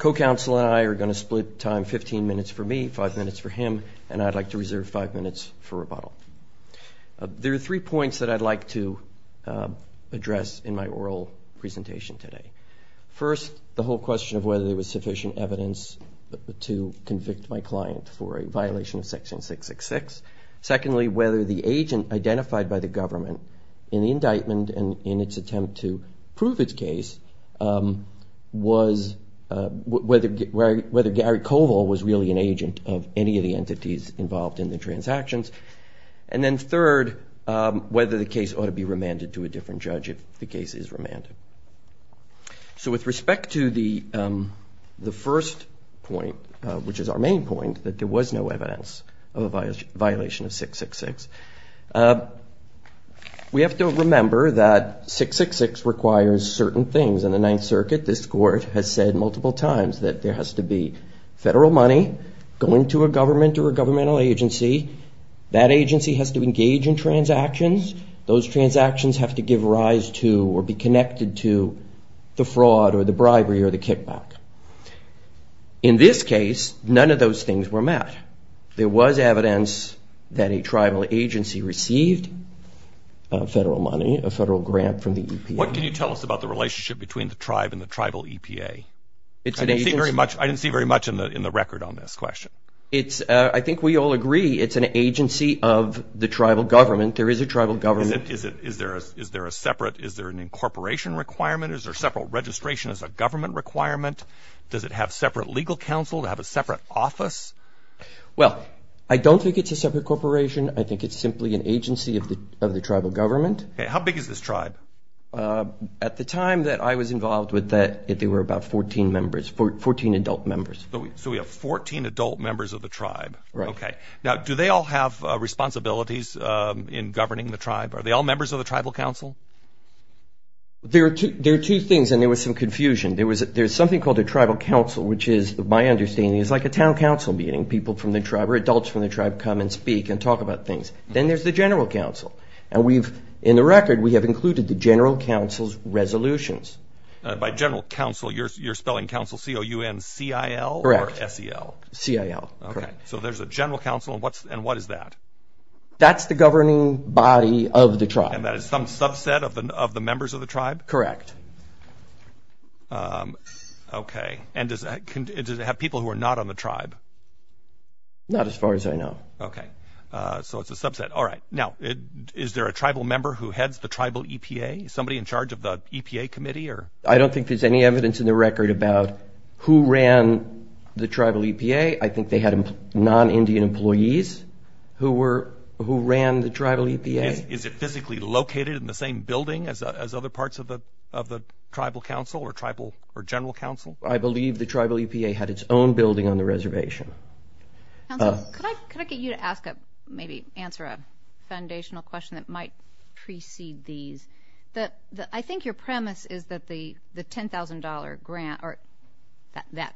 Co-Counsel and I are going to split time 15 minutes for me, 5 minutes for him, and I'd like to reserve 5 minutes for rebuttal. There are three points that I'd like to address in my oral presentation today. First, the whole question of whether there was sufficient evidence to convict my client for a violation of Section 666. Secondly, whether the agent identified by the government in the indictment and in its attempt to prove its case was whether Gary Koval was really an agent of any of the entities involved in the transactions. And then third, whether the case ought to be remanded to a different judge if the case is remanded. So with respect to the first point, which is our main point, that there was no evidence of a violation of 666, we have to remember that 666 requires certain things. In the Ninth Circuit, this Court has said multiple times that there has to be federal money going to a government or a governmental agency that agency has to engage in transactions. Those transactions have to give rise to or be connected to the fraud or the bribery or the kickback. In this case, none of those things were met. There was evidence that a tribal agency received federal money, a federal grant from the EPA. What can you tell us about the relationship between the tribe and the tribal EPA? I didn't see very much in the record on this question. I think we all agree it's an agency of the tribal government. There is a tribal government. Is there a separate, is there an incorporation requirement? Is there separate registration as a government requirement? Does it have separate legal counsel? Does it have a separate office? Well, I don't think it's a separate corporation. I think it's simply an agency of the tribal government. How big is this tribe? At the time that I was involved with that, there were about 14 members, 14 adult members. So we have 14 adult members of the tribe. Right. Okay. Now, do they all have responsibilities in governing the tribe? Are they all members of the tribal council? There are two things, and there was some confusion. There's something called a tribal council, which is, my understanding, is like a town council meeting. People from the tribe or adults from the tribe come and speak and talk about things. Then there's the general council. And we've, in the record, we have included the general council's resolutions. By general council, you're spelling council, C-O-U-N-C-I-L? Correct. Or S-E-L? C-I-L. Okay. So there's a general council, and what is that? That's the governing body of the tribe. And that is some subset of the members of the tribe? Correct. Okay. And does it have people who are not on the tribe? Not as far as I know. Okay. So it's a subset. All right. Now, is there a tribal member who heads the tribal EPA? Is somebody in charge of the EPA committee? I don't think there's any evidence in the record about who ran the tribal EPA. I think they had non-Indian employees who ran the tribal EPA. Is it physically located in the same building as other parts of the tribal council or general council? I believe the tribal EPA had its own building on the reservation. Counsel, could I get you to ask a maybe answer a foundational question that might precede these? I think your premise is that the $10,000 grant or that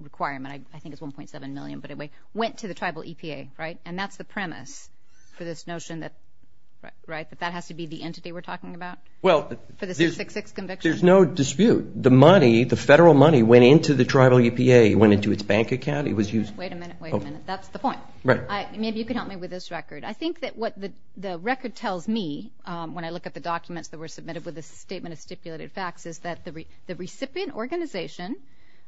requirement, I think it's $1.7 million, but it went to the tribal EPA, right? And that's the premise for this notion that that has to be the entity we're talking about for the 666 conviction? Well, there's no dispute. The money, the federal money, went into the tribal EPA. It went into its bank account. Wait a minute, wait a minute. That's the point. Maybe you could help me with this record. I think that what the record tells me when I look at the documents that were submitted with a statement of stipulated facts is that the recipient organization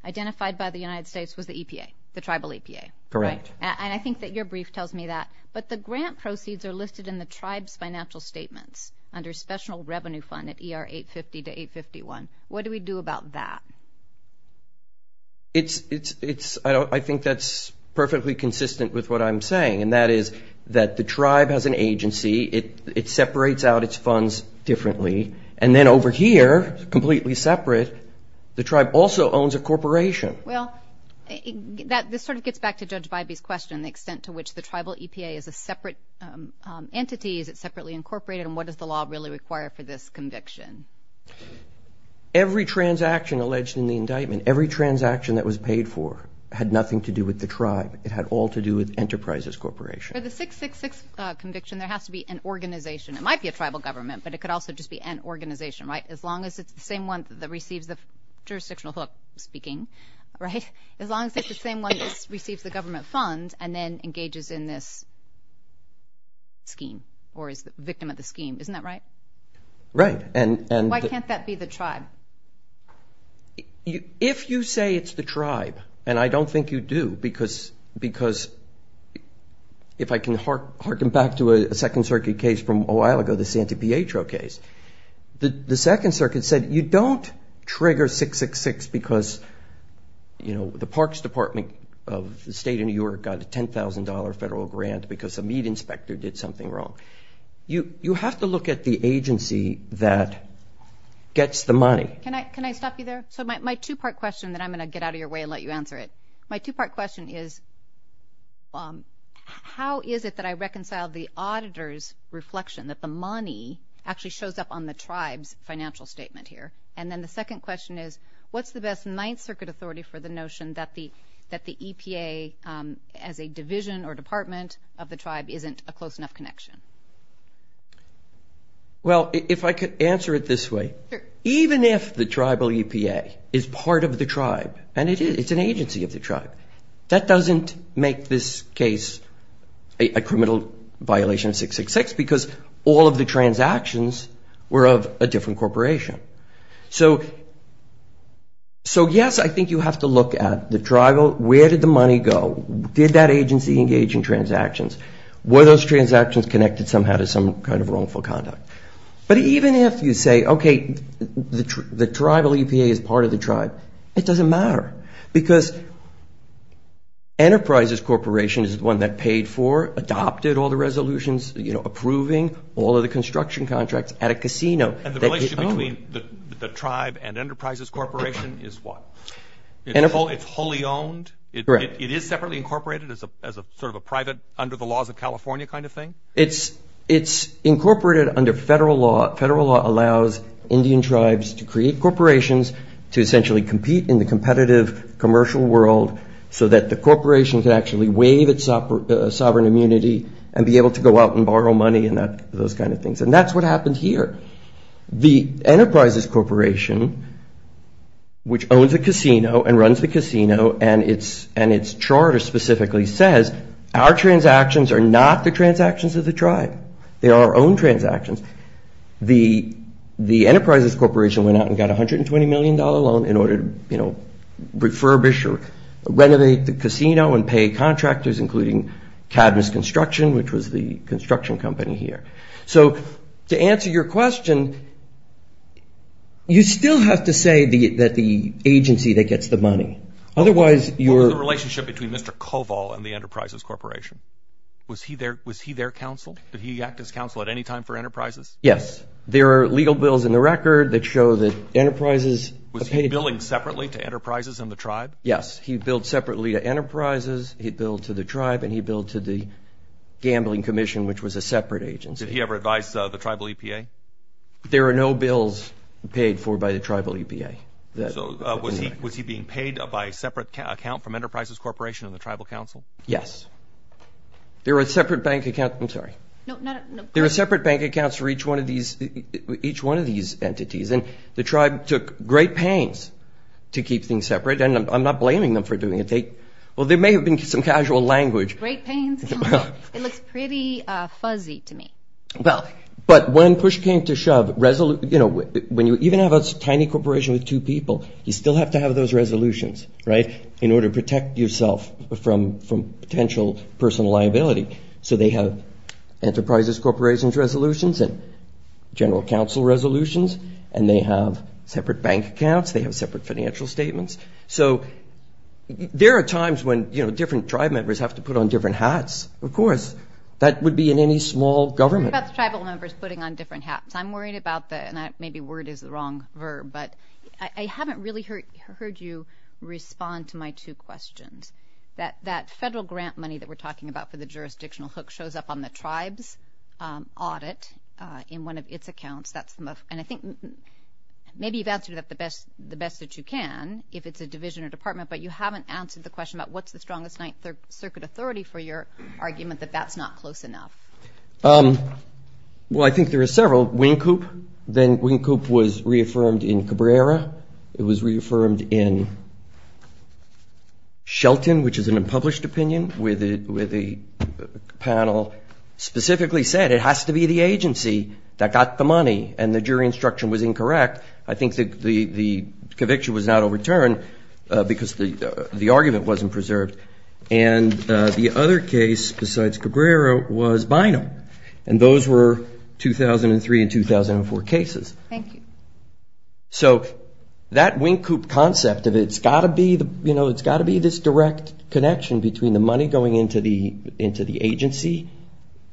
identified by the United States was the EPA, the tribal EPA. Correct. And I think that your brief tells me that. But the grant proceeds are listed in the tribe's financial statements under special revenue fund at ER 850 to 851. What do we do about that? I think that's perfectly consistent with what I'm saying, and that is that the tribe has an agency. It separates out its funds differently. And then over here, completely separate, the tribe also owns a corporation. Well, this sort of gets back to Judge Bybee's question, the extent to which the tribal EPA is a separate entity. Is it separately incorporated? And what does the law really require for this conviction? Every transaction alleged in the indictment, every transaction that was paid for, had nothing to do with the tribe. It had all to do with Enterprises Corporation. For the 666 conviction, there has to be an organization. It might be a tribal government, but it could also just be an organization, right, as long as it's the same one that receives the jurisdictional hook, speaking, right? As long as it's the same one that receives the government fund and then engages in this scheme or is the victim of the scheme. Isn't that right? Right. Why can't that be the tribe? If you say it's the tribe, and I don't think you do, because if I can harken back to a Second Circuit case from a while ago, the Santi Pietro case, the Second Circuit said you don't trigger 666 because, you know, the Parks Department of the State of New York got a $10,000 federal grant because a meat inspector did something wrong. You have to look at the agency that gets the money. Can I stop you there? So my two-part question, then I'm going to get out of your way and let you answer it. My two-part question is, how is it that I reconcile the auditor's reflection, that the money actually shows up on the tribe's financial statement here? And then the second question is, what's the best Ninth Circuit authority for the notion that the EPA, as a division or department of the tribe, isn't a close enough connection? Well, if I could answer it this way, even if the tribal EPA is part of the tribe, and it's an agency of the tribe, that doesn't make this case a criminal violation of 666 because all of the transactions were of a different corporation. So, yes, I think you have to look at the tribal, where did the money go? Did that agency engage in transactions? Were those transactions connected somehow to some kind of wrongful conduct? But even if you say, okay, the tribal EPA is part of the tribe, it doesn't matter, because Enterprises Corporation is the one that paid for, adopted all the resolutions, you know, approving all of the construction contracts at a casino. And the relationship between the tribe and Enterprises Corporation is what? It's wholly owned? Correct. It is separately incorporated as sort of a private, under the laws of California kind of thing? It's incorporated under federal law. Federal law allows Indian tribes to create corporations to essentially compete in the competitive commercial world so that the corporation can actually waive its sovereign immunity and be able to go out and borrow money and those kind of things. And that's what happened here. The Enterprises Corporation, which owns a casino and runs the casino and its charter specifically, says our transactions are not the transactions of the tribe. They are our own transactions. The Enterprises Corporation went out and got a $120 million loan in order to, you know, refurbish or renovate the casino and pay contractors, including Cadmus Construction, which was the construction company here. So to answer your question, you still have to say that the agency that gets the money. What was the relationship between Mr. Koval and the Enterprises Corporation? Was he their counsel? Did he act as counsel at any time for Enterprises? Yes. There are legal bills in the record that show that Enterprises. Was he billing separately to Enterprises and the tribe? Yes. He billed separately to Enterprises, he billed to the tribe, and he billed to the gambling commission, which was a separate agency. Did he ever advise the tribal EPA? There are no bills paid for by the tribal EPA. So was he being paid by a separate account from Enterprises Corporation and the tribal counsel? Yes. There were separate bank accounts for each one of these entities. And the tribe took great pains to keep things separate. And I'm not blaming them for doing it. Well, there may have been some casual language. Great pains? It looks pretty fuzzy to me. Well, but when push came to shove, you know, when you even have a tiny corporation with two people, you still have to have those resolutions, right, in order to protect yourself from potential personal liability. So they have Enterprises Corporation's resolutions and general counsel resolutions, and they have separate bank accounts, they have separate financial statements. So there are times when, you know, different tribe members have to put on different hats. Of course, that would be in any small government. What about the tribal members putting on different hats? I'm worried about that, and maybe word is the wrong verb, but I haven't really heard you respond to my two questions. That federal grant money that we're talking about for the jurisdictional hook shows up on the tribe's audit in one of its accounts. And I think maybe you've answered that the best that you can, if it's a division or department, but you haven't answered the question about what's the strongest Ninth Circuit authority for your argument that that's not close enough. Well, I think there are several. Wing Coop, then Wing Coop was reaffirmed in Cabrera. It was reaffirmed in Shelton, which is an unpublished opinion, with the panel specifically said it has to be the agency that got the money, and the jury instruction was incorrect. I think the conviction was not overturned because the argument wasn't preserved. And the other case besides Cabrera was Bynum, and those were 2003 and 2004 cases. Thank you. So that Wing Coop concept, it's got to be this direct connection between the money going into the agency,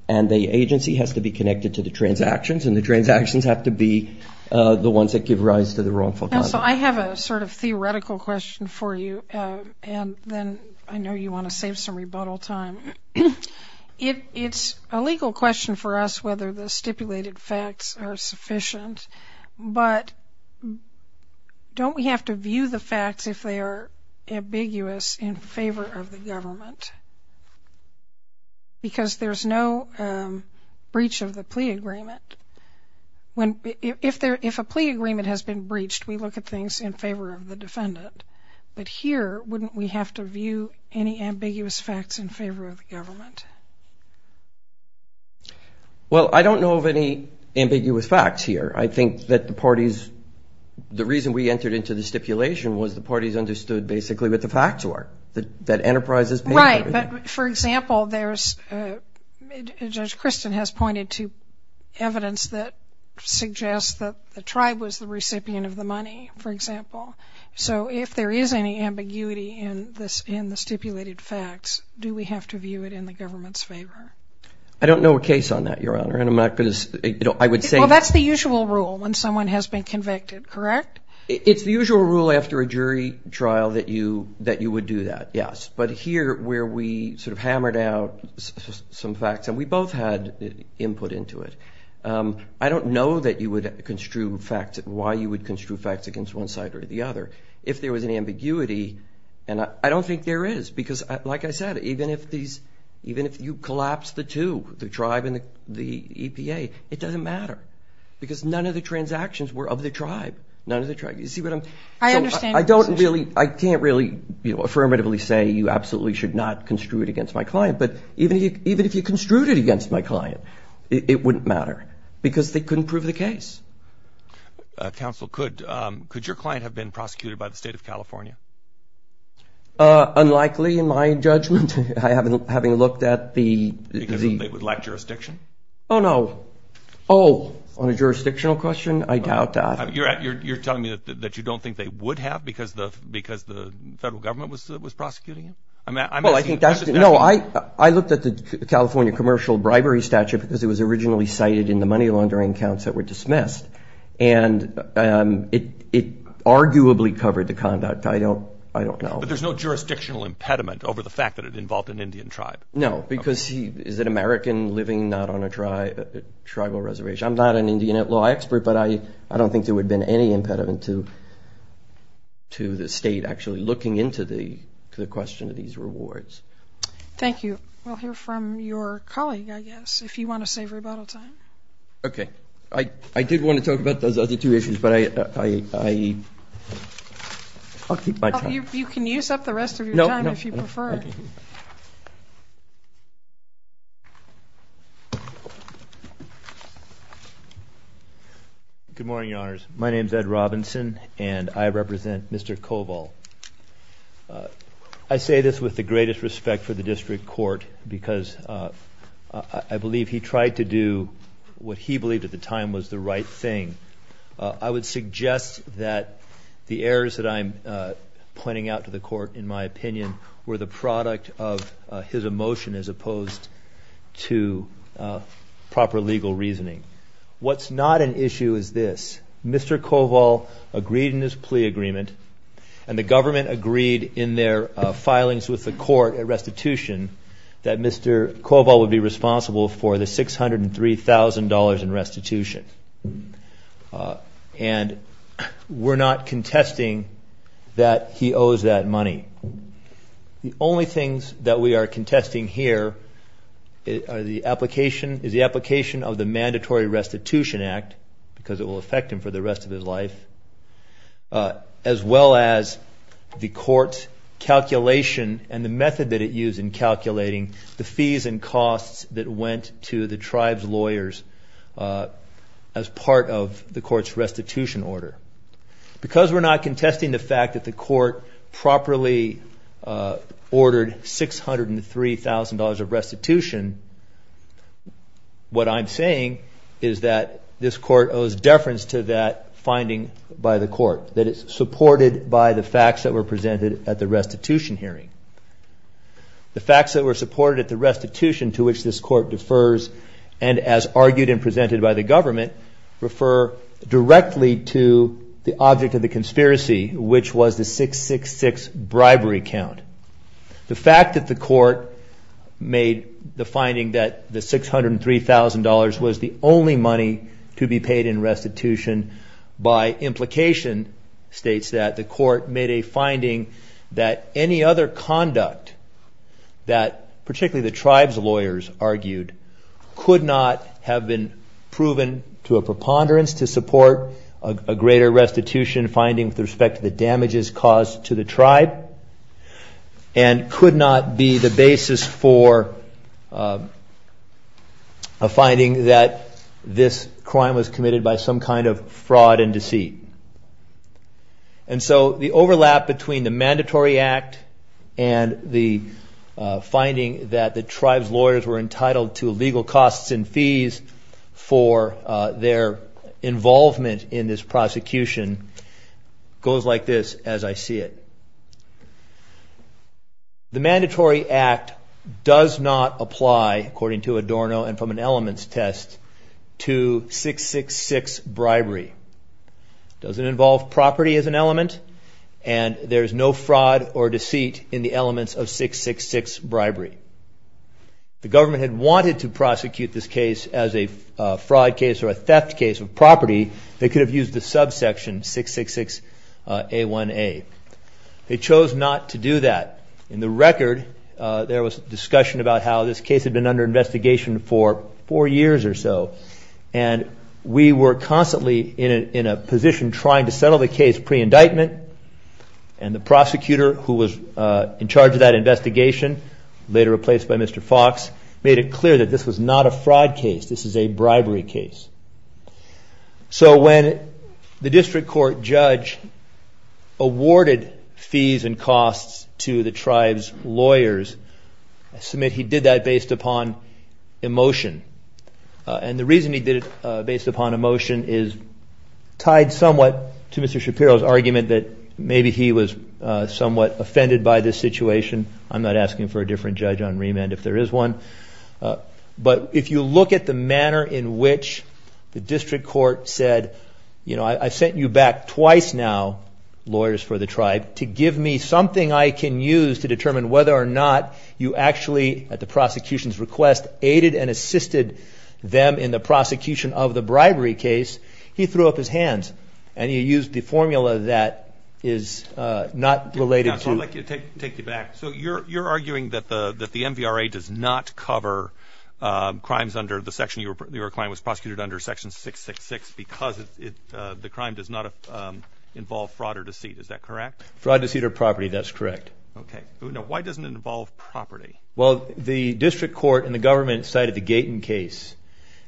and the agency has to be connected to the transactions, and the transactions have to be the ones that give rise to the wrongful conduct. So I have a sort of theoretical question for you, and then I know you want to save some rebuttal time. It's a legal question for us whether the stipulated facts are sufficient, but don't we have to view the facts if they are ambiguous in favor of the government? Because there's no breach of the plea agreement. If a plea agreement has been breached, we look at things in favor of the defendant. But here, wouldn't we have to view any ambiguous facts in favor of the government? Well, I don't know of any ambiguous facts here. I think that the parties, the reason we entered into the stipulation was the parties understood basically what the facts were, that enterprises paid for it. Right, but, for example, Judge Christin has pointed to evidence that suggests that the tribe was the recipient of the money, for example. So if there is any ambiguity in the stipulated facts, do we have to view it in the government's favor? I don't know a case on that, Your Honor, and I'm not going to, I would say... Well, that's the usual rule when someone has been convicted, correct? It's the usual rule after a jury trial that you would do that, yes. But here, where we sort of hammered out some facts, and we both had input into it, I don't know that you would construe facts, why you would construe facts against one side or the other. If there was an ambiguity, and I don't think there is, because, like I said, even if these, even if you collapse the two, the tribe and the EPA, it doesn't matter, because none of the transactions were of the tribe. None of the tribe, you see what I'm... I understand your position. I don't really, I can't really, you know, affirmatively say you absolutely should not construe it against my client, but even if you construed it against my client, it wouldn't matter, because they couldn't prove the case. Counsel, could your client have been prosecuted by the State of California? Unlikely, in my judgment, having looked at the... Because they would lack jurisdiction? Oh, no. Oh, on a jurisdictional question, I doubt that. You're telling me that you don't think they would have because the federal government was prosecuting them? Well, I think that's... No, I looked at the California commercial bribery statute because it was originally cited in the money laundering counts that were dismissed, and it arguably covered the conduct. I don't know. But there's no jurisdictional impediment over the fact that it involved an Indian tribe? No, because he is an American living not on a tribal reservation. I'm not an Indian law expert, but I don't think there would have been any impediment to the state actually looking into the question of these rewards. Thank you. We'll hear from your colleague, I guess, if you want to save rebuttal time. Okay. I did want to talk about those other two issues, but I'll keep my time. You can use up the rest of your time if you prefer. No, no. Good morning, Your Honors. My name is Ed Robinson, and I represent Mr. Koval. I say this with the greatest respect for the district court because I believe he tried to do what he believed at the time was the right thing. I would suggest that the errors that I'm pointing out to the court, in my opinion, were the product of his emotion as opposed to proper legal reasoning. What's not an issue is this. Mr. Koval agreed in his plea agreement, and the government agreed in their filings with the court at restitution, that Mr. Koval would be responsible for the $603,000 in restitution. And we're not contesting that he owes that money. The only things that we are contesting here is the application of the Mandatory Restitution Act because it will affect him for the rest of his life, as well as the court's calculation and the method that it used in calculating the fees and costs that went to the tribe's lawyers as part of the court's restitution order. Because we're not contesting the fact that the court properly ordered $603,000 of restitution, what I'm saying is that this court owes deference to that finding by the court, that it's supported by the facts that were presented at the restitution hearing. The facts that were supported at the restitution to which this court defers, and as argued and presented by the government, refer directly to the object of the conspiracy, which was the 666 bribery count. The fact that the court made the finding that the $603,000 was the only money to be paid in restitution by implication states that the court made a finding that any other conduct that particularly the tribe's lawyers argued, could not have been proven to a preponderance to support a greater restitution finding with respect to the damages caused to the tribe, and could not be the basis for a finding that this crime was committed by some kind of fraud and deceit. And so the overlap between the mandatory act and the finding that the tribe's lawyers were entitled to legal costs and fees for their involvement in this prosecution goes like this as I see it. The mandatory act does not apply, according to Adorno and from an elements test, to 666 bribery. It doesn't involve property as an element, and there's no fraud or deceit in the elements of 666 bribery. The government had wanted to prosecute this case as a fraud case or a theft case of property. They could have used the subsection 666A1A. They chose not to do that. In the record, there was discussion about how this case had been under investigation for four years or so, and we were constantly in a position trying to settle the case pre-indictment, and the prosecutor who was in charge of that investigation, later replaced by Mr. Fox, made it clear that this was not a fraud case. This is a bribery case. So when the district court judge awarded fees and costs to the tribe's lawyers, I submit he did that based upon emotion, and the reason he did it based upon emotion is tied somewhat to Mr. Shapiro's argument that maybe he was somewhat offended by this situation. I'm not asking for a different judge on remand if there is one, but if you look at the manner in which the district court said, you know, I've sent you back twice now, lawyers for the tribe, to give me something I can use to determine whether or not you actually, at the prosecution's request, aided and assisted them in the prosecution of the bribery case, he threw up his hands, and he used the formula that is not related to. I'd like to take you back. So you're arguing that the MVRA does not cover crimes under the section, your client was prosecuted under section 666 because the crime does not involve fraud or deceit. Is that correct? Fraud, deceit, or property. That's correct. Okay. Now, why doesn't it involve property? Well, the district court and the government cited the Gaten case,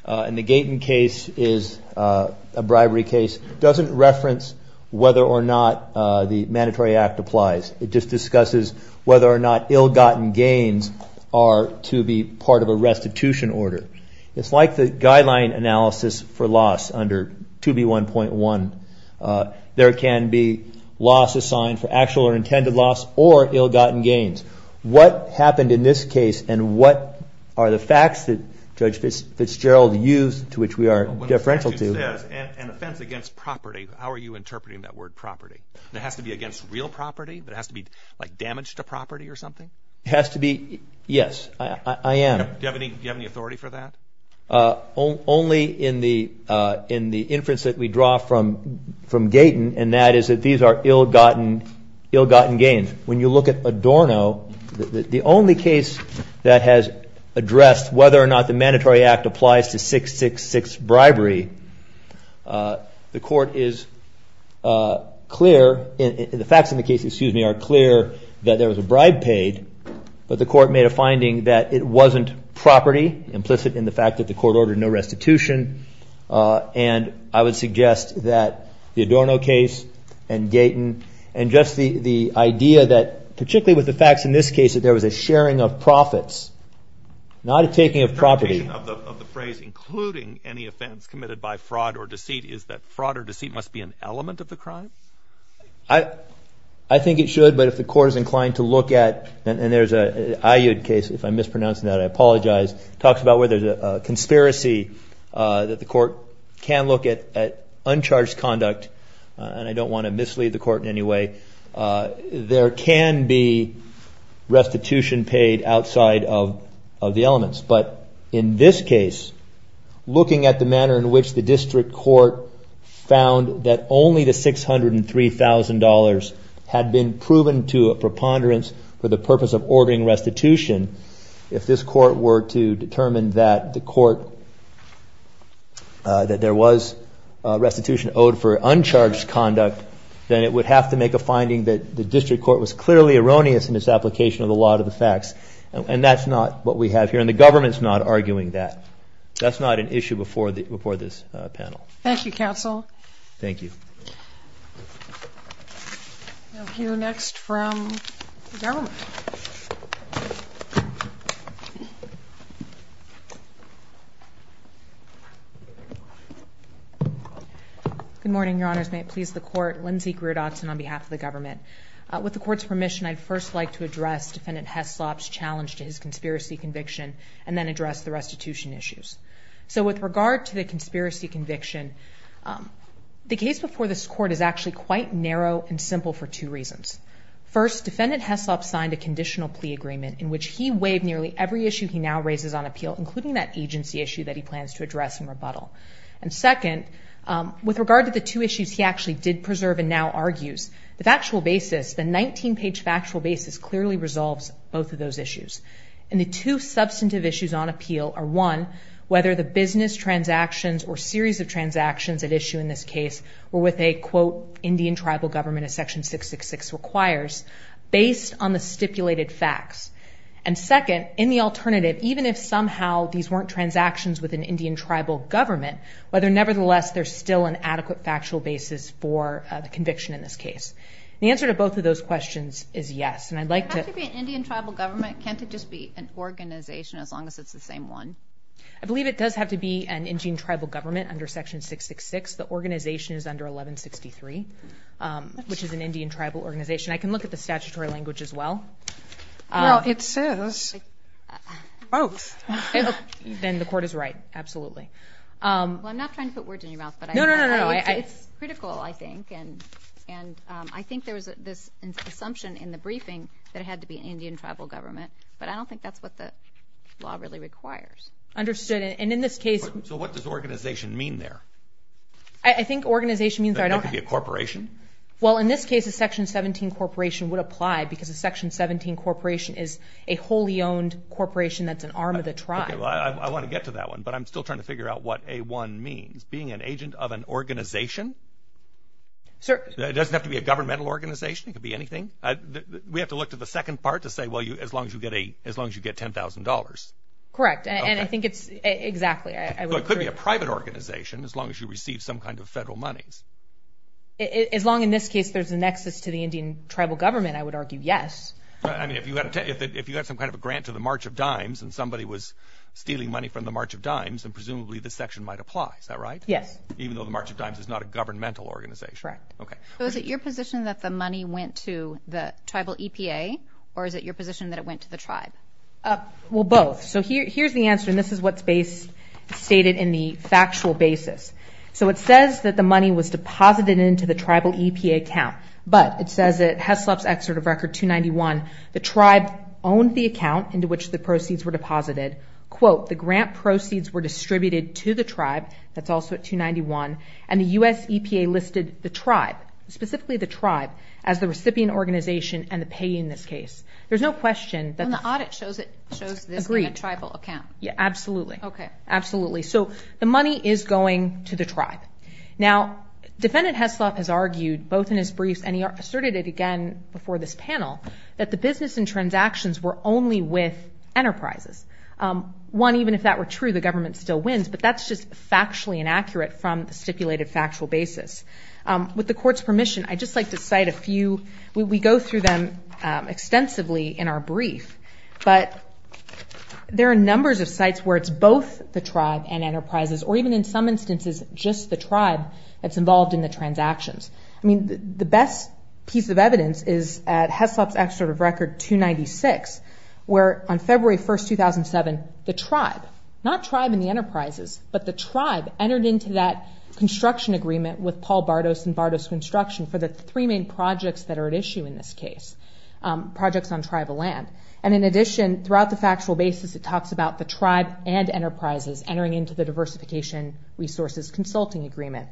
and the Gaten case is a bribery case. It doesn't reference whether or not the mandatory act applies. It just discusses whether or not ill-gotten gains are to be part of a restitution order. It's like the guideline analysis for loss under 2B1.1. There can be loss assigned for actual or intended loss or ill-gotten gains. What happened in this case, and what are the facts that Judge Fitzgerald used, to which we are deferential to? When the section says an offense against property, how are you interpreting that word property? It has to be against real property? It has to be like damage to property or something? It has to be. Yes, I am. Do you have any authority for that? Only in the inference that we draw from Gaten, and that is that these are ill-gotten gains. When you look at Adorno, the only case that has addressed whether or not the mandatory act applies to 666 bribery, the facts in the case are clear that there was a bribe paid, but the court made a finding that it wasn't property, implicit in the fact that the court ordered no restitution. I would suggest that the Adorno case and Gaten, and just the idea that particularly with the facts in this case that there was a sharing of profits, not a taking of property. The interpretation of the phrase, including any offense committed by fraud or deceit, is that fraud or deceit must be an element of the crime? I think it should, but if the court is inclined to look at, and there's an Ayyad case, if I'm mispronouncing that, I apologize, talks about where there's a conspiracy that the court can look at uncharged conduct, and I don't want to mislead the court in any way. There can be restitution paid outside of the elements, but in this case, looking at the manner in which the district court found that only the $603,000 had been proven to a preponderance for the purpose of ordering restitution, if this court were to determine that there was restitution owed for uncharged conduct, then it would have to make a finding that the district court was clearly erroneous in its application of the law to the facts, and that's not what we have here, and the government's not arguing that. That's not an issue before this panel. Thank you, counsel. Thank you. We'll hear next from the government. Good morning, Your Honors. May it please the court. Lindsey Greer Dodson on behalf of the government. With the court's permission, I'd first like to address Defendant Heslop's challenge to his conspiracy conviction and then address the restitution issues. So with regard to the conspiracy conviction, the case before this court is actually quite narrow and simple for two reasons. First, Defendant Heslop signed a conditional plea agreement in which he waived nearly every issue he now raises on appeal, including that agency issue that he plans to address in rebuttal. And second, with regard to the two issues he actually did preserve and now argues, the factual basis, the 19-page factual basis clearly resolves both of those issues, and the two substantive issues on appeal are, one, whether the business transactions with an Indian tribal government as Section 666 requires, based on the stipulated facts. And second, in the alternative, even if somehow these weren't transactions with an Indian tribal government, whether nevertheless there's still an adequate factual basis for the conviction in this case. The answer to both of those questions is yes. And I'd like to – It has to be an Indian tribal government. It can't just be an organization as long as it's the same one. I believe it does have to be an Indian tribal government under Section 666. The organization is under 1163, which is an Indian tribal organization. I can look at the statutory language as well. Well, it says both. Then the court is right. Absolutely. Well, I'm not trying to put words in your mouth, but it's critical, I think. And I think there was this assumption in the briefing that it had to be an Indian tribal government, but I don't think that's what the law really requires. Understood. So what does organization mean there? I think organization means I don't have to be a corporation. Well, in this case, a Section 17 corporation would apply because a Section 17 corporation is a wholly owned corporation that's an arm of the tribe. I want to get to that one, but I'm still trying to figure out what A-1 means. Being an agent of an organization? It doesn't have to be a governmental organization. It could be anything. We have to look to the second part to say, well, as long as you get $10,000. Correct. And I think it's exactly. It could be a private organization as long as you receive some kind of federal monies. As long as, in this case, there's a nexus to the Indian tribal government, I would argue yes. I mean, if you have some kind of a grant to the March of Dimes and somebody was stealing money from the March of Dimes, then presumably this section might apply. Is that right? Yes. Even though the March of Dimes is not a governmental organization. Correct. Okay. So is it your position that the money went to the tribal EPA, or is it your position that it went to the tribe? Well, both. Okay. So here's the answer, and this is what's stated in the factual basis. So it says that the money was deposited into the tribal EPA account, but it says at HESLOP's Excerpt of Record 291, the tribe owned the account into which the proceeds were deposited. Quote, the grant proceeds were distributed to the tribe. That's also at 291. And the U.S. EPA listed the tribe, specifically the tribe, as the recipient organization and the payee in this case. There's no question that. And the audit shows this in a tribal account. Agreed. Yeah, absolutely. Okay. Absolutely. So the money is going to the tribe. Now, Defendant HESLOP has argued both in his briefs, and he asserted it again before this panel, that the business and transactions were only with enterprises. One, even if that were true, the government still wins, but that's just factually inaccurate from the stipulated factual basis. With the Court's permission, I'd just like to cite a few. We go through them extensively in our brief. But there are numbers of sites where it's both the tribe and enterprises, or even in some instances just the tribe that's involved in the transactions. I mean, the best piece of evidence is at HESLOP's Excerpt of Record 296, where on February 1, 2007, the tribe, not tribe and the enterprises, but the tribe entered into that construction agreement with Paul Bardos and Bardos Construction for the three main projects that are at issue in this case, projects on tribal land. And in addition, throughout the factual basis, it talks about the tribe and enterprises entering into the Diversification Resources Consulting Agreement,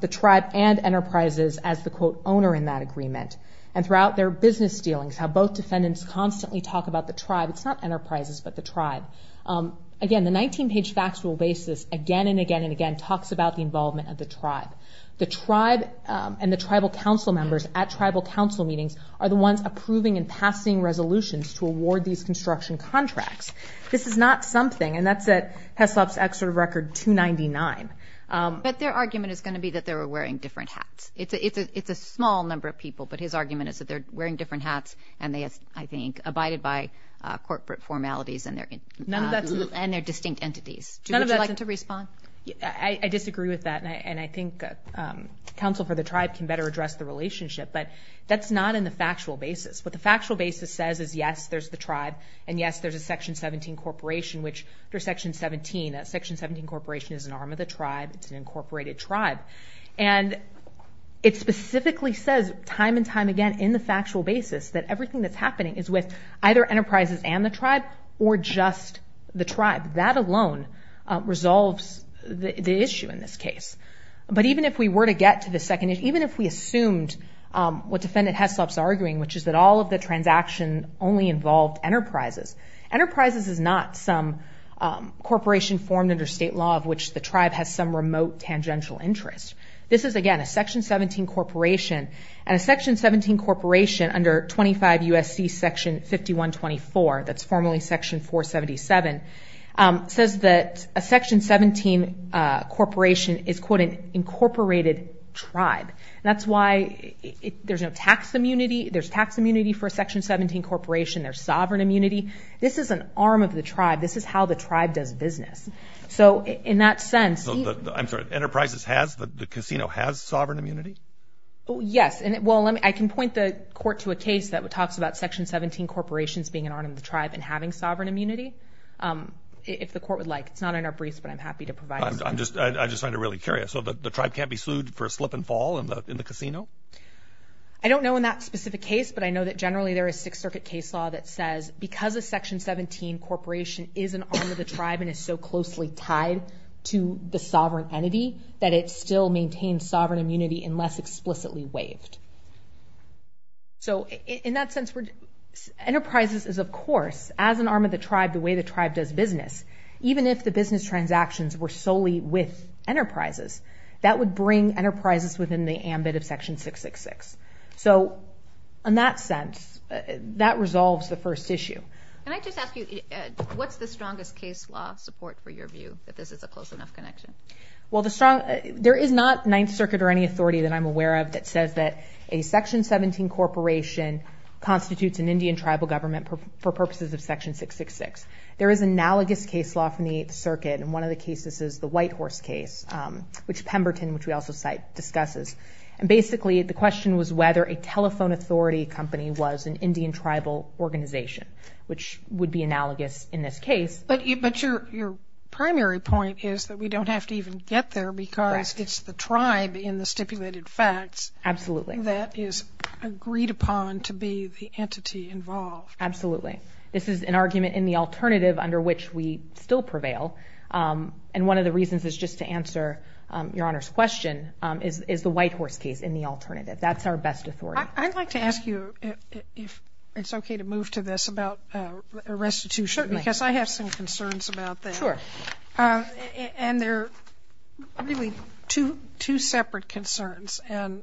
the tribe and enterprises as the, quote, owner in that agreement, and throughout their business dealings, how both defendants constantly talk about the tribe. It's not enterprises, but the tribe. Again, the 19-page factual basis again and again and again talks about the involvement of the tribe. The tribe and the tribal council members at tribal council meetings are the ones approving and passing resolutions to award these construction contracts. This is not something, and that's at HESLOP's Excerpt of Record 299. But their argument is going to be that they were wearing different hats. It's a small number of people, but his argument is that they're wearing different hats, and they, I think, abided by corporate formalities and their distinct entities. None of that's a – Would you like to respond? I disagree with that, and I think counsel for the tribe can better address the relationship. But that's not in the factual basis. What the factual basis says is, yes, there's the tribe, and yes, there's a Section 17 corporation, which under Section 17, that Section 17 corporation is an arm of the tribe. It's an incorporated tribe. And it specifically says time and time again in the factual basis that everything that's happening is with either enterprises and the tribe or just the tribe. That alone resolves the issue in this case. But even if we were to get to the second issue, even if we assumed what Defendant HESLOP's arguing, which is that all of the transaction only involved enterprises, enterprises is not some corporation formed under state law of which the tribe has some remote tangential interest. This is, again, a Section 17 corporation, and a Section 17 corporation under 25 U.S.C. Section 5124, that's formally Section 477, says that a Section 17 corporation is, quote, an incorporated tribe. And that's why there's no tax immunity. There's tax immunity for a Section 17 corporation. There's sovereign immunity. This is an arm of the tribe. This is how the tribe does business. So in that sense he – I'm sorry, enterprises has, the casino has sovereign immunity? Yes. Well, I can point the court to a case that talks about Section 17 corporations being an arm of the tribe and having sovereign immunity, if the court would like. It's not in our briefs, but I'm happy to provide it. I just find it really curious. So the tribe can't be sued for a slip and fall in the casino? I don't know in that specific case, but I know that generally there is Sixth Circuit case law that says because a Section 17 corporation is an arm of the tribe and is so closely tied to the sovereign entity, that it still maintains sovereign immunity unless explicitly waived. So in that sense, enterprises is, of course, as an arm of the tribe, the way the tribe does business. Even if the business transactions were solely with enterprises, that would bring enterprises within the ambit of Section 666. So in that sense, that resolves the first issue. Can I just ask you, what's the strongest case law support for your view that this is a close enough connection? Well, there is not Ninth Circuit or any authority that I'm aware of that says that a Section 17 corporation constitutes an Indian tribal government for purposes of Section 666. There is analogous case law from the Eighth Circuit, and one of the cases is the White Horse case, which Pemberton, which we also cite, discusses. And basically, the question was whether a telephone authority company was an Indian tribal organization, which would be analogous in this case. But your primary point is that we don't have to even get there because it's the tribe in the stipulated facts that is agreed upon to be the entity involved. Absolutely. This is an argument in the alternative under which we still prevail. And one of the reasons is just to answer Your Honor's question, is the White Horse case in the alternative. That's our best authority. I'd like to ask you if it's okay to move to this about restitution because I have some concerns about that. Sure. And they're really two separate concerns. And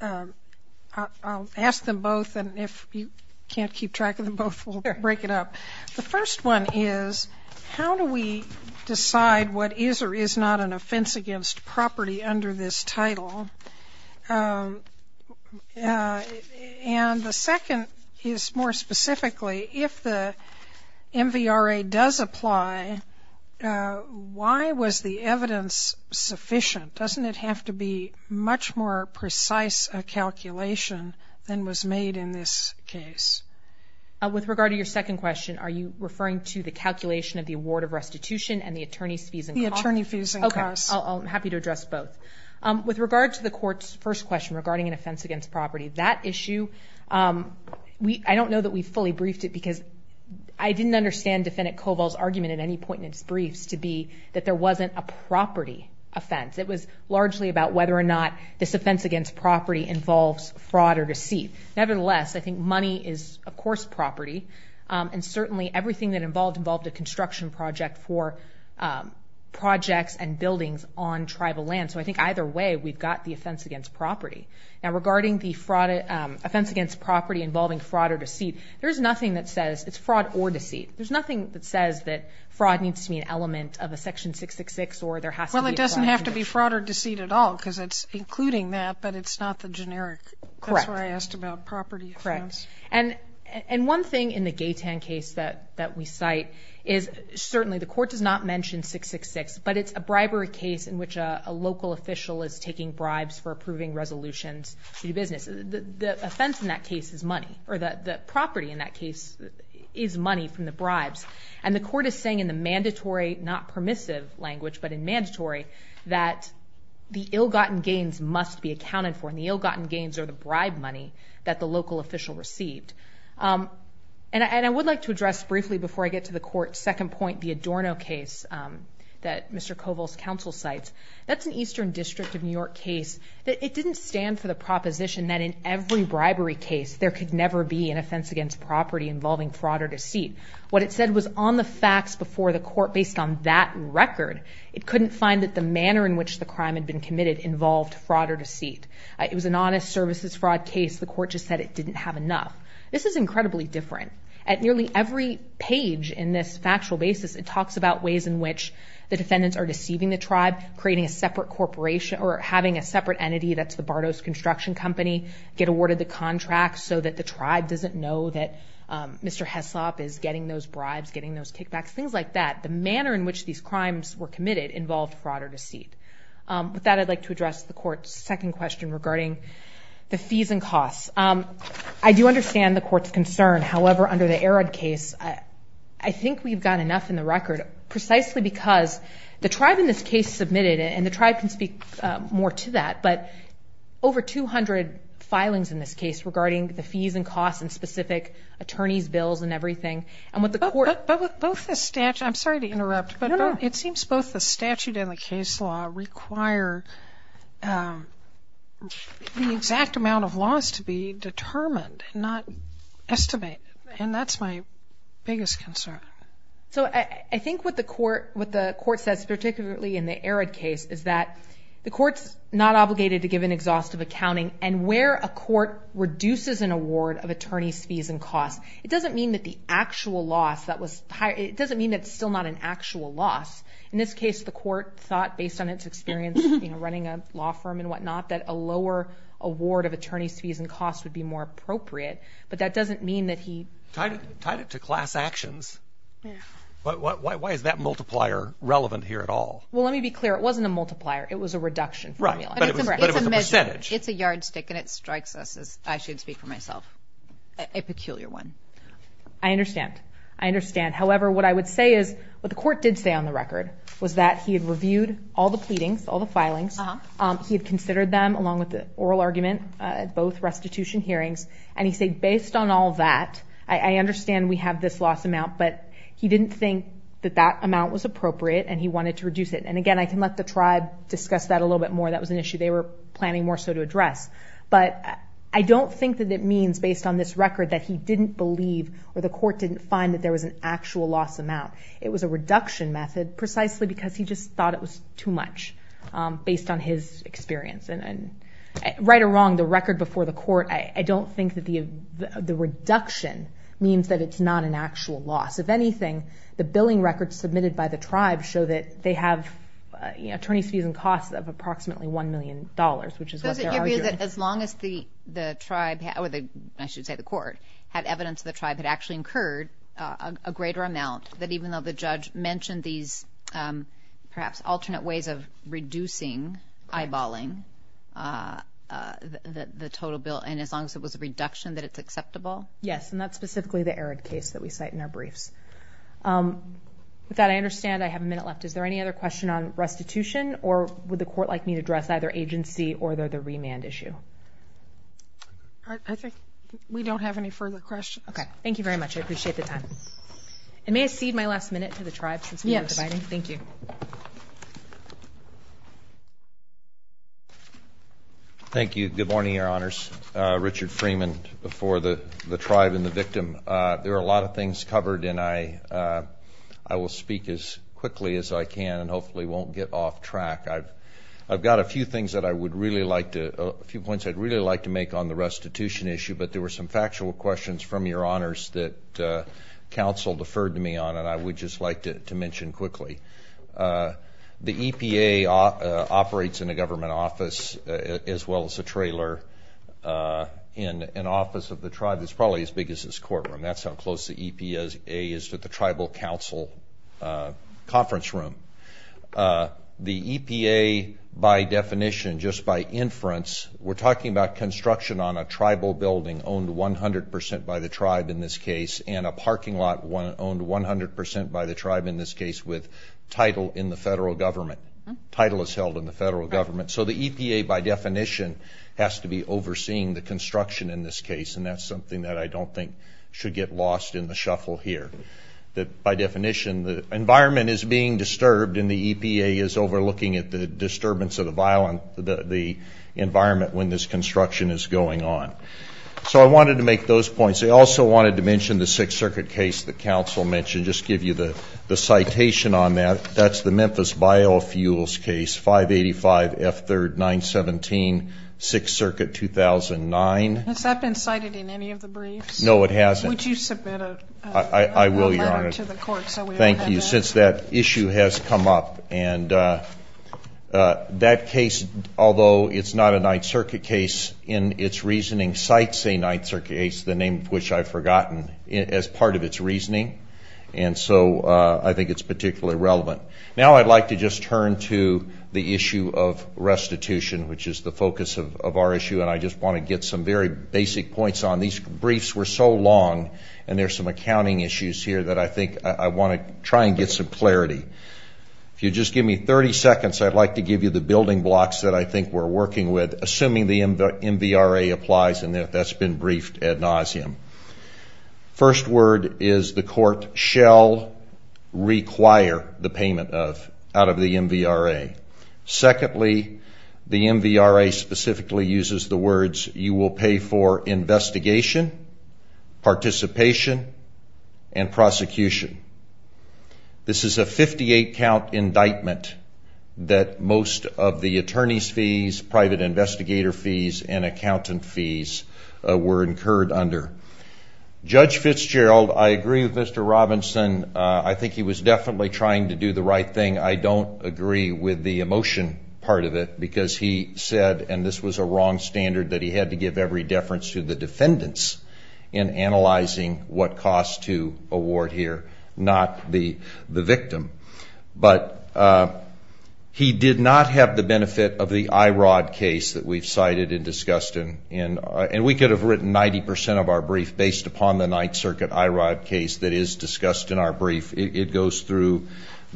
I'll ask them both, and if you can't keep track of them both, we'll break it up. The first one is how do we decide what is or is not an offense against property under this title? And the second is more specifically, if the MVRA does apply, why was the evidence sufficient? Doesn't it have to be much more precise a calculation than was made in this case? With regard to your second question, are you referring to the calculation of the award of restitution and the attorney's fees and costs? The attorney fees and costs. Okay. I'm happy to address both. With regard to the court's first question regarding an offense against property, that issue, I don't know that we fully briefed it because I didn't understand Defendant Koval's argument at any point in his briefs to be that there wasn't a property offense. It was largely about whether or not this offense against property involves fraud or deceit. Nevertheless, I think money is, of course, property, and certainly everything that involved involved a construction project for projects and buildings on tribal land. So I think either way, we've got the offense against property. Now, regarding the offense against property involving fraud or deceit, there's nothing that says it's fraud or deceit. There's nothing that says that fraud needs to be an element of a Section 666 or there has to be a fraud or deceit. Well, it doesn't have to be fraud or deceit at all because it's including that, but it's not the generic. Correct. That's why I asked about property offense. Correct. And one thing in the Gaytan case that we cite is certainly the court does not mention 666, but it's a bribery case in which a local official is taking bribes for approving resolutions to do business. The offense in that case is money, or the property in that case is money from the bribes, and the court is saying in the mandatory, not permissive language, but in mandatory, that the ill-gotten gains must be accounted for, and the ill-gotten gains are the bribe money that the local official received. And I would like to address briefly before I get to the court's second point, the Adorno case that Mr. Koval's counsel cites. That's an Eastern District of New York case. It didn't stand for the proposition that in every bribery case, there could never be an offense against property involving fraud or deceit. What it said was on the facts before the court based on that record, it couldn't find that the manner in which the crime had been committed involved fraud or deceit. It was an honest services fraud case. The court just said it didn't have enough. This is incredibly different. At nearly every page in this factual basis, it talks about ways in which the defendants are deceiving the tribe, creating a separate corporation or having a separate entity, that's the Bardos Construction Company, get awarded the contract so that the tribe doesn't know that Mr. Heslop is getting those bribes, getting those kickbacks, things like that. The manner in which these crimes were committed involved fraud or deceit. With that, I'd like to address the court's second question regarding the fees and costs. I do understand the court's concern. However, under the Arad case, I think we've got enough in the record, precisely because the tribe in this case submitted it, and the tribe can speak more to that, but over 200 filings in this case regarding the fees and costs and specific attorneys, bills and everything. But with both the statute, I'm sorry to interrupt, but it seems both the statute and the case law require the exact amount of laws to be determined, not estimated, and that's my biggest concern. So I think what the court says, particularly in the Arad case, is that the court's not obligated to give an exhaustive accounting, and where a court reduces an award of attorneys' fees and costs, it doesn't mean that the actual loss that was hired, it doesn't mean it's still not an actual loss. In this case, the court thought, based on its experience running a law firm and whatnot, that a lower award of attorneys' fees and costs would be more appropriate, but that doesn't mean that he... Tied it to class actions. Why is that multiplier relevant here at all? Well, let me be clear. It wasn't a multiplier. It was a reduction formula. Right. But it was a percentage. It's a yardstick, and it strikes us as, I shouldn't speak for myself, a peculiar one. I understand. I understand. However, what I would say is what the court did say on the record was that he had reviewed all the pleadings, all the filings. He had considered them along with the oral argument at both restitution hearings, and he said, based on all that, I understand we have this loss amount, but he didn't think that that amount was appropriate, and he wanted to reduce it. And again, I can let the tribe discuss that a little bit more. That was an issue they were planning more so to address. But I don't think that it means, based on this record, that he didn't believe or the court didn't find that there was an actual loss amount. It was a reduction method precisely because he just thought it was too much based on his experience. Right or wrong, the record before the court, I don't think that the reduction means that it's not an actual loss. If anything, the billing records submitted by the tribe show that they have attorney's fees and costs of approximately $1 million, which is what they're arguing. Does it give you that as long as the tribe, or I should say the court, had evidence that the tribe had actually incurred a greater amount, that even though the judge mentioned these perhaps alternate ways of reducing, eyeballing the total bill, and as long as it was a reduction that it's acceptable? Yes, and that's specifically the arid case that we cite in our briefs. With that, I understand I have a minute left. Is there any other question on restitution, or would the court like me to address either agency or the remand issue? I think we don't have any further questions. Okay, thank you very much. I appreciate the time. And may I cede my last minute to the tribe since we are dividing? Yes. Thank you. Thank you. Good morning, Your Honors. Richard Freeman before the tribe and the victim. There are a lot of things covered, and I will speak as quickly as I can and hopefully won't get off track. I've got a few things that I would really like to, a few points I'd really like to make on the restitution issue, but there were some factual questions from Your Honors that counsel deferred to me on, and I would just like to mention quickly. The EPA operates in a government office as well as a trailer in an office of the tribe. It's probably as big as this courtroom. That's how close the EPA is to the tribal council conference room. The EPA, by definition, just by inference, we're talking about construction on a tribal building owned 100% by the tribe in this case and a parking lot owned 100% by the tribe in this case with title in the federal government. Title is held in the federal government. So the EPA, by definition, has to be overseeing the construction in this case, and that's something that I don't think should get lost in the shuffle here. By definition, the environment is being disturbed and the EPA is overlooking the disturbance of the environment when this construction is going on. So I wanted to make those points. I also wanted to mention the Sixth Circuit case that counsel mentioned. I'll just give you the citation on that. That's the Memphis Biofuels case, 585 F3rd 917, Sixth Circuit 2009. Has that been cited in any of the briefs? No, it hasn't. Would you submit a letter to the court so we know how to do it? I will, Your Honor. Thank you, since that issue has come up. And that case, although it's not a Ninth Circuit case in its reasoning, cites a Ninth Circuit case, the name of which I've forgotten, as part of its reasoning. And so I think it's particularly relevant. Now I'd like to just turn to the issue of restitution, which is the focus of our issue, and I just want to get some very basic points on. These briefs were so long, and there's some accounting issues here that I think I want to try and get some clarity. If you'll just give me 30 seconds, I'd like to give you the building blocks that I think we're working with, assuming the MVRA applies and that that's been briefed ad nauseum. First word is the court shall require the payment of, out of the MVRA. You will pay for investigation, participation, and prosecution. This is a 58-count indictment that most of the attorney's fees, private investigator fees, and accountant fees were incurred under. Judge Fitzgerald, I agree with Mr. Robinson. I think he was definitely trying to do the right thing. I don't agree with the emotion part of it because he said, and this was a wrong standard that he had to give every deference to the defendants in analyzing what costs to award here, not the victim. But he did not have the benefit of the IROD case that we've cited and discussed. And we could have written 90% of our brief based upon the Ninth Circuit IROD case that is discussed in our brief. It goes through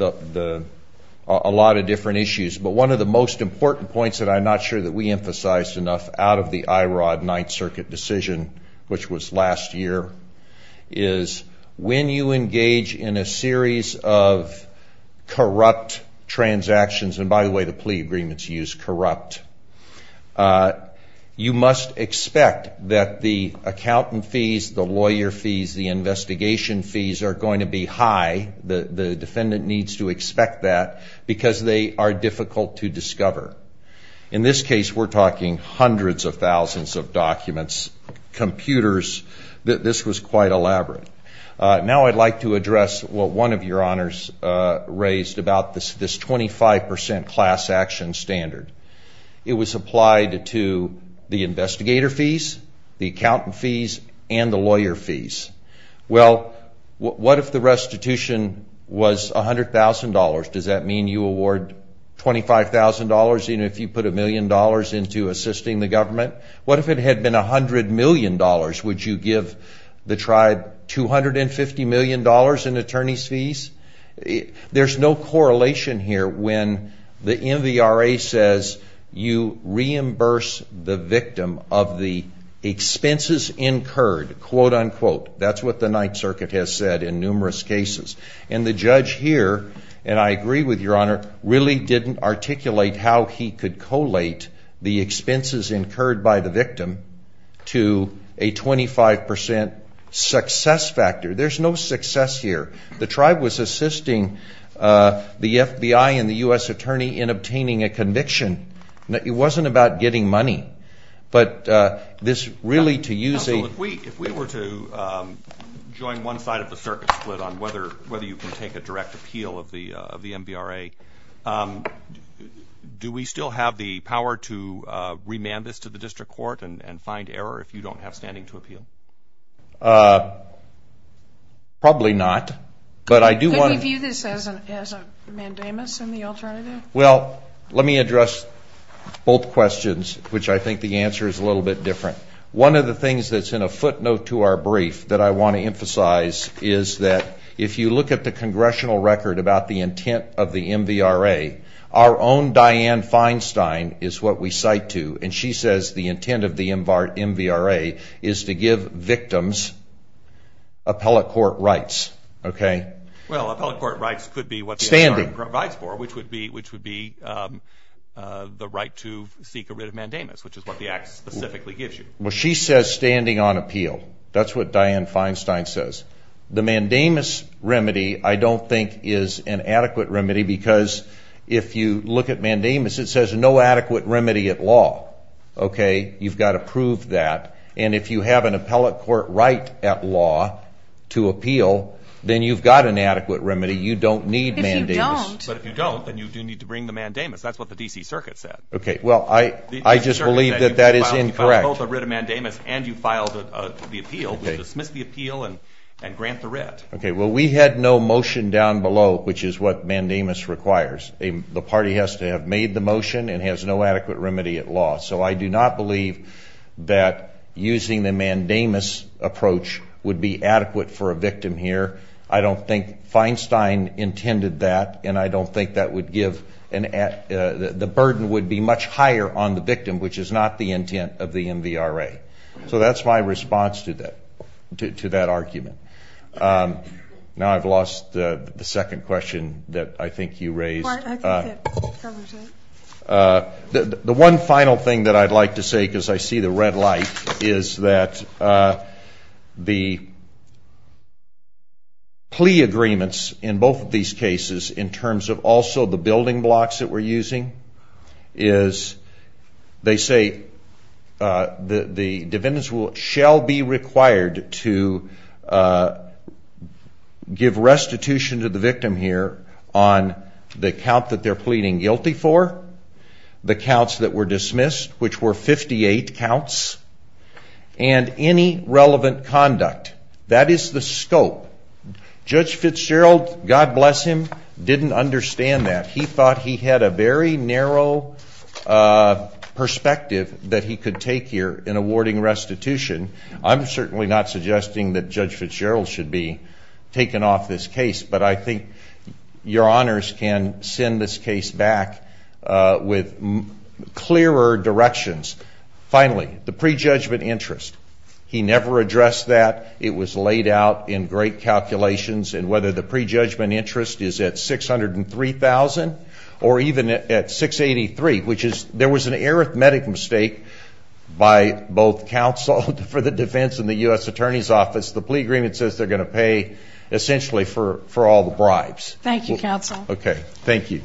a lot of different issues. But one of the most important points that I'm not sure that we emphasized enough out of the IROD Ninth Circuit decision, which was last year, is when you engage in a series of corrupt transactions, and by the way, the plea agreements use corrupt, you must expect that the accountant fees, the lawyer fees, the investigation fees are going to be high. The defendant needs to expect that because they are difficult to discover. In this case, we're talking hundreds of thousands of documents, computers. This was quite elaborate. Now I'd like to address what one of your honors raised about this 25% class action standard. It was applied to the investigator fees, the accountant fees, and the lawyer fees. Well, what if the restitution was $100,000? Does that mean you award $25,000 even if you put a million dollars into assisting the government? What if it had been $100 million? Would you give the tribe $250 million in attorney's fees? There's no correlation here when the MVRA says you reimburse the victim of the expenses incurred, quote, unquote. That's what the Ninth Circuit has said in numerous cases. And the judge here, and I agree with your honor, really didn't articulate how he could collate the expenses incurred by the victim to a 25% success factor. There's no success here. The tribe was assisting the FBI and the U.S. Attorney in obtaining a conviction. It wasn't about getting money. Counsel, if we were to join one side of the circuit split on whether you can take a direct appeal of the MVRA, do we still have the power to remand this to the district court and find error if you don't have standing to appeal? Probably not. Could we view this as a mandamus in the alternative? Well, let me address both questions, which I think the answer is a little bit different. One of the things that's in a footnote to our brief that I want to emphasize is that if you look at the congressional record about the intent of the MVRA, our own Dianne Feinstein is what we cite to, and she says the intent of the MVRA is to give victims appellate court rights. Well, appellate court rights could be what the MVRA provides for, which would be the right to seek a writ of mandamus, which is what the Act specifically gives you. Well, she says standing on appeal. That's what Dianne Feinstein says. The mandamus remedy, I don't think, is an adequate remedy because if you look at mandamus, it says no adequate remedy at law. You've got to prove that. And if you have an appellate court right at law to appeal, then you've got an adequate remedy. You don't need mandamus. If you don't. But if you don't, then you do need to bring the mandamus. That's what the D.C. Circuit said. Okay. Well, I just believe that that is incorrect. You filed both a writ of mandamus and you filed the appeal. We dismiss the appeal and grant the writ. Okay. Well, we had no motion down below, which is what mandamus requires. The party has to have made the motion and has no adequate remedy at law. So I do not believe that using the mandamus approach would be adequate for a victim here. I don't think Feinstein intended that, and I don't think that would give the burden would be much higher on the victim, which is not the intent of the MVRA. So that's my response to that argument. Now I've lost the second question that I think you raised. The one final thing that I'd like to say, because I see the red light, is that the plea agreements in both of these cases, in terms of also the building blocks that we're using, is they say the defendants shall be required to give restitution to the victim here on the count that they're pleading guilty for, the counts that were dismissed, which were 58 counts, and any relevant conduct. That is the scope. Judge Fitzgerald, God bless him, didn't understand that. He thought he had a very narrow perspective that he could take here in awarding restitution. I'm certainly not suggesting that Judge Fitzgerald should be taken off this case, but I think your honors can send this case back with clearer directions. Finally, the prejudgment interest. He never addressed that. It was laid out in great calculations, and whether the prejudgment interest is at $603,000 or even at $683,000, which is there was an arithmetic mistake by both counsel for the defense and the U.S. Attorney's Office. The plea agreement says they're going to pay essentially for all the bribes. Thank you, counsel. Okay, thank you.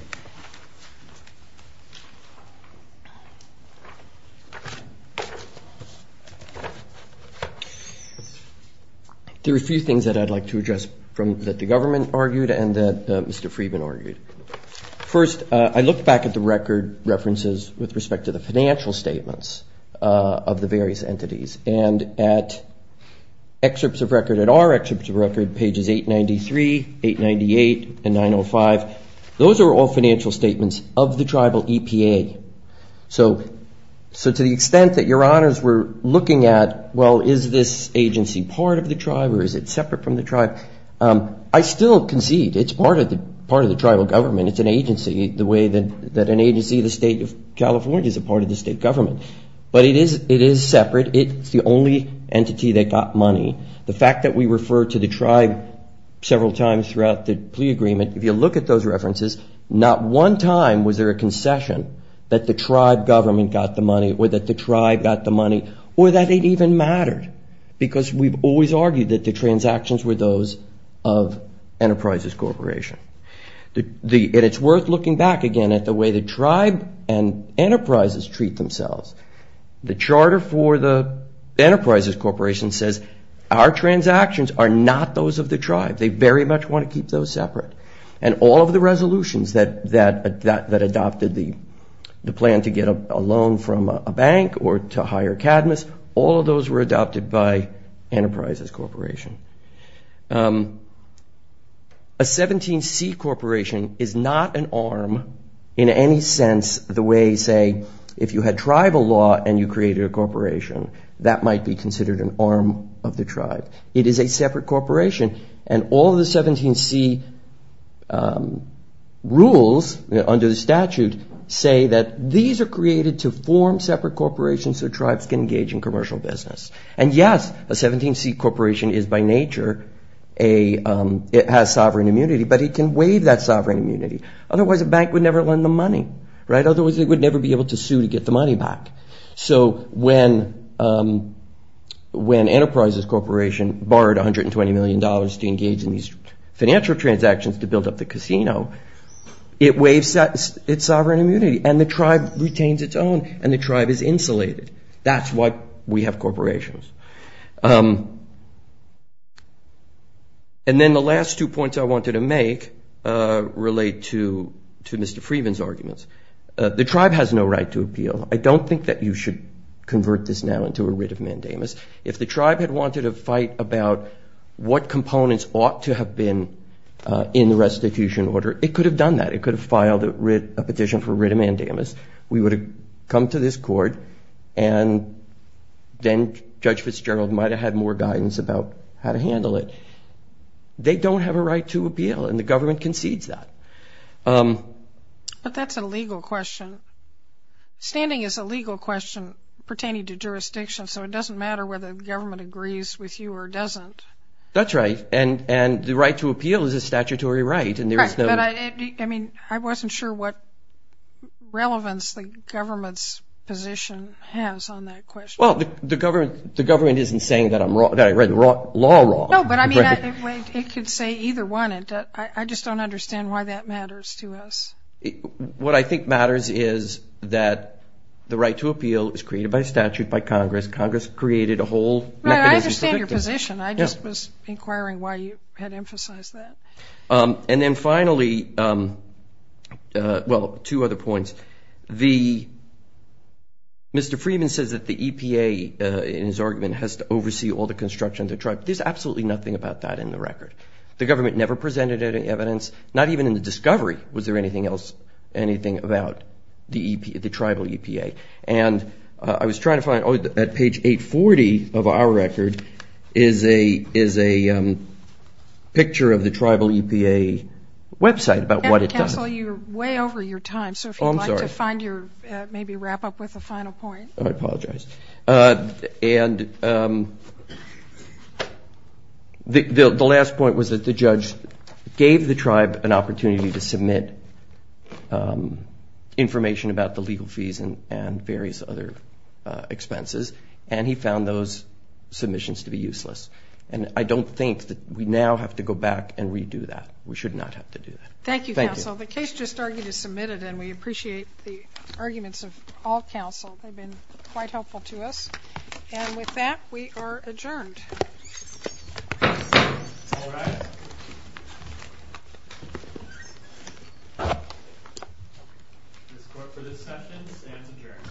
There are a few things that I'd like to address that the government argued and that Mr. Friedman argued. First, I looked back at the record references with respect to the financial statements of the various entities, and at excerpts of record, at our excerpts of record, pages 893, 898, and 905, those are all financial statements of the tribal EPA. So to the extent that your honors were looking at, well, is this agency part of the tribe or is it separate from the tribe, I still concede it's part of the tribal government. It's an agency the way that an agency in the state of California is a part of the state government. But it is separate. It's the only entity that got money. The fact that we refer to the tribe several times throughout the plea agreement, if you look at those references, not one time was there a concession that the tribe government got the money or that the tribe got the money or that it even mattered, because we've always argued that the transactions were those of Enterprises Corporation. And it's worth looking back again at the way the tribe and enterprises treat themselves. The charter for the Enterprises Corporation says our transactions are not those of the tribe. They very much want to keep those separate. And all of the resolutions that adopted the plan to get a loan from a bank or to hire Cadmus, all of those were adopted by Enterprises Corporation. A 17C corporation is not an arm in any sense the way, say, if you had tribal law and you created a corporation, that might be considered an arm of the tribe. It is a separate corporation. And all the 17C rules under the statute say that these are created to form separate corporations so tribes can engage in commercial business. And yes, a 17C corporation is by nature, it has sovereign immunity, but it can waive that sovereign immunity. Otherwise, a bank would never lend them money. Otherwise, they would never be able to sue to get the money back. So when Enterprises Corporation borrowed $120 million to engage in these financial transactions to build up the casino, it waives its sovereign immunity and the tribe retains its own and the tribe is insulated. That's why we have corporations. And then the last two points I wanted to make relate to Mr. Freedman's arguments. The tribe has no right to appeal. I don't think that you should convert this now into a writ of mandamus. If the tribe had wanted a fight about what components ought to have been in the restitution order, it could have done that. It could have filed a petition for a writ of mandamus. We would have come to this court and then Judge Fitzgerald might have had more guidance about how to handle it. They don't have a right to appeal and the government concedes that. But that's a legal question. Standing is a legal question pertaining to jurisdiction, so it doesn't matter whether the government agrees with you or doesn't. That's right. And the right to appeal is a statutory right. I wasn't sure what relevance the government's position has on that question. The government isn't saying that I read the law wrong. It could say either one. I just don't understand why that matters to us. What I think matters is that the right to appeal is created by statute by Congress. Congress created a whole mechanism. I understand your position. I just was inquiring why you had emphasized that. And then finally, well, two other points. Mr. Freeman says that the EPA, in his argument, has to oversee all the construction of the tribe. There's absolutely nothing about that in the record. The government never presented any evidence, not even in the discovery was there anything else, anything about the tribal EPA. And I was trying to find, at page 840 of our record, is a picture of the tribal EPA website about what it does. And, counsel, you're way over your time, so if you'd like to maybe wrap up with a final point. Oh, I apologize. And the last point was that the judge gave the tribe an opportunity to submit information about the legal fees and various other expenses, and he found those submissions to be useless. And I don't think that we now have to go back and redo that. We should not have to do that. Thank you, counsel. The case just argued is submitted, and we appreciate the arguments of all counsel. They've been quite helpful to us. And with that, we are adjourned. All rise. This court for this session stands adjourned.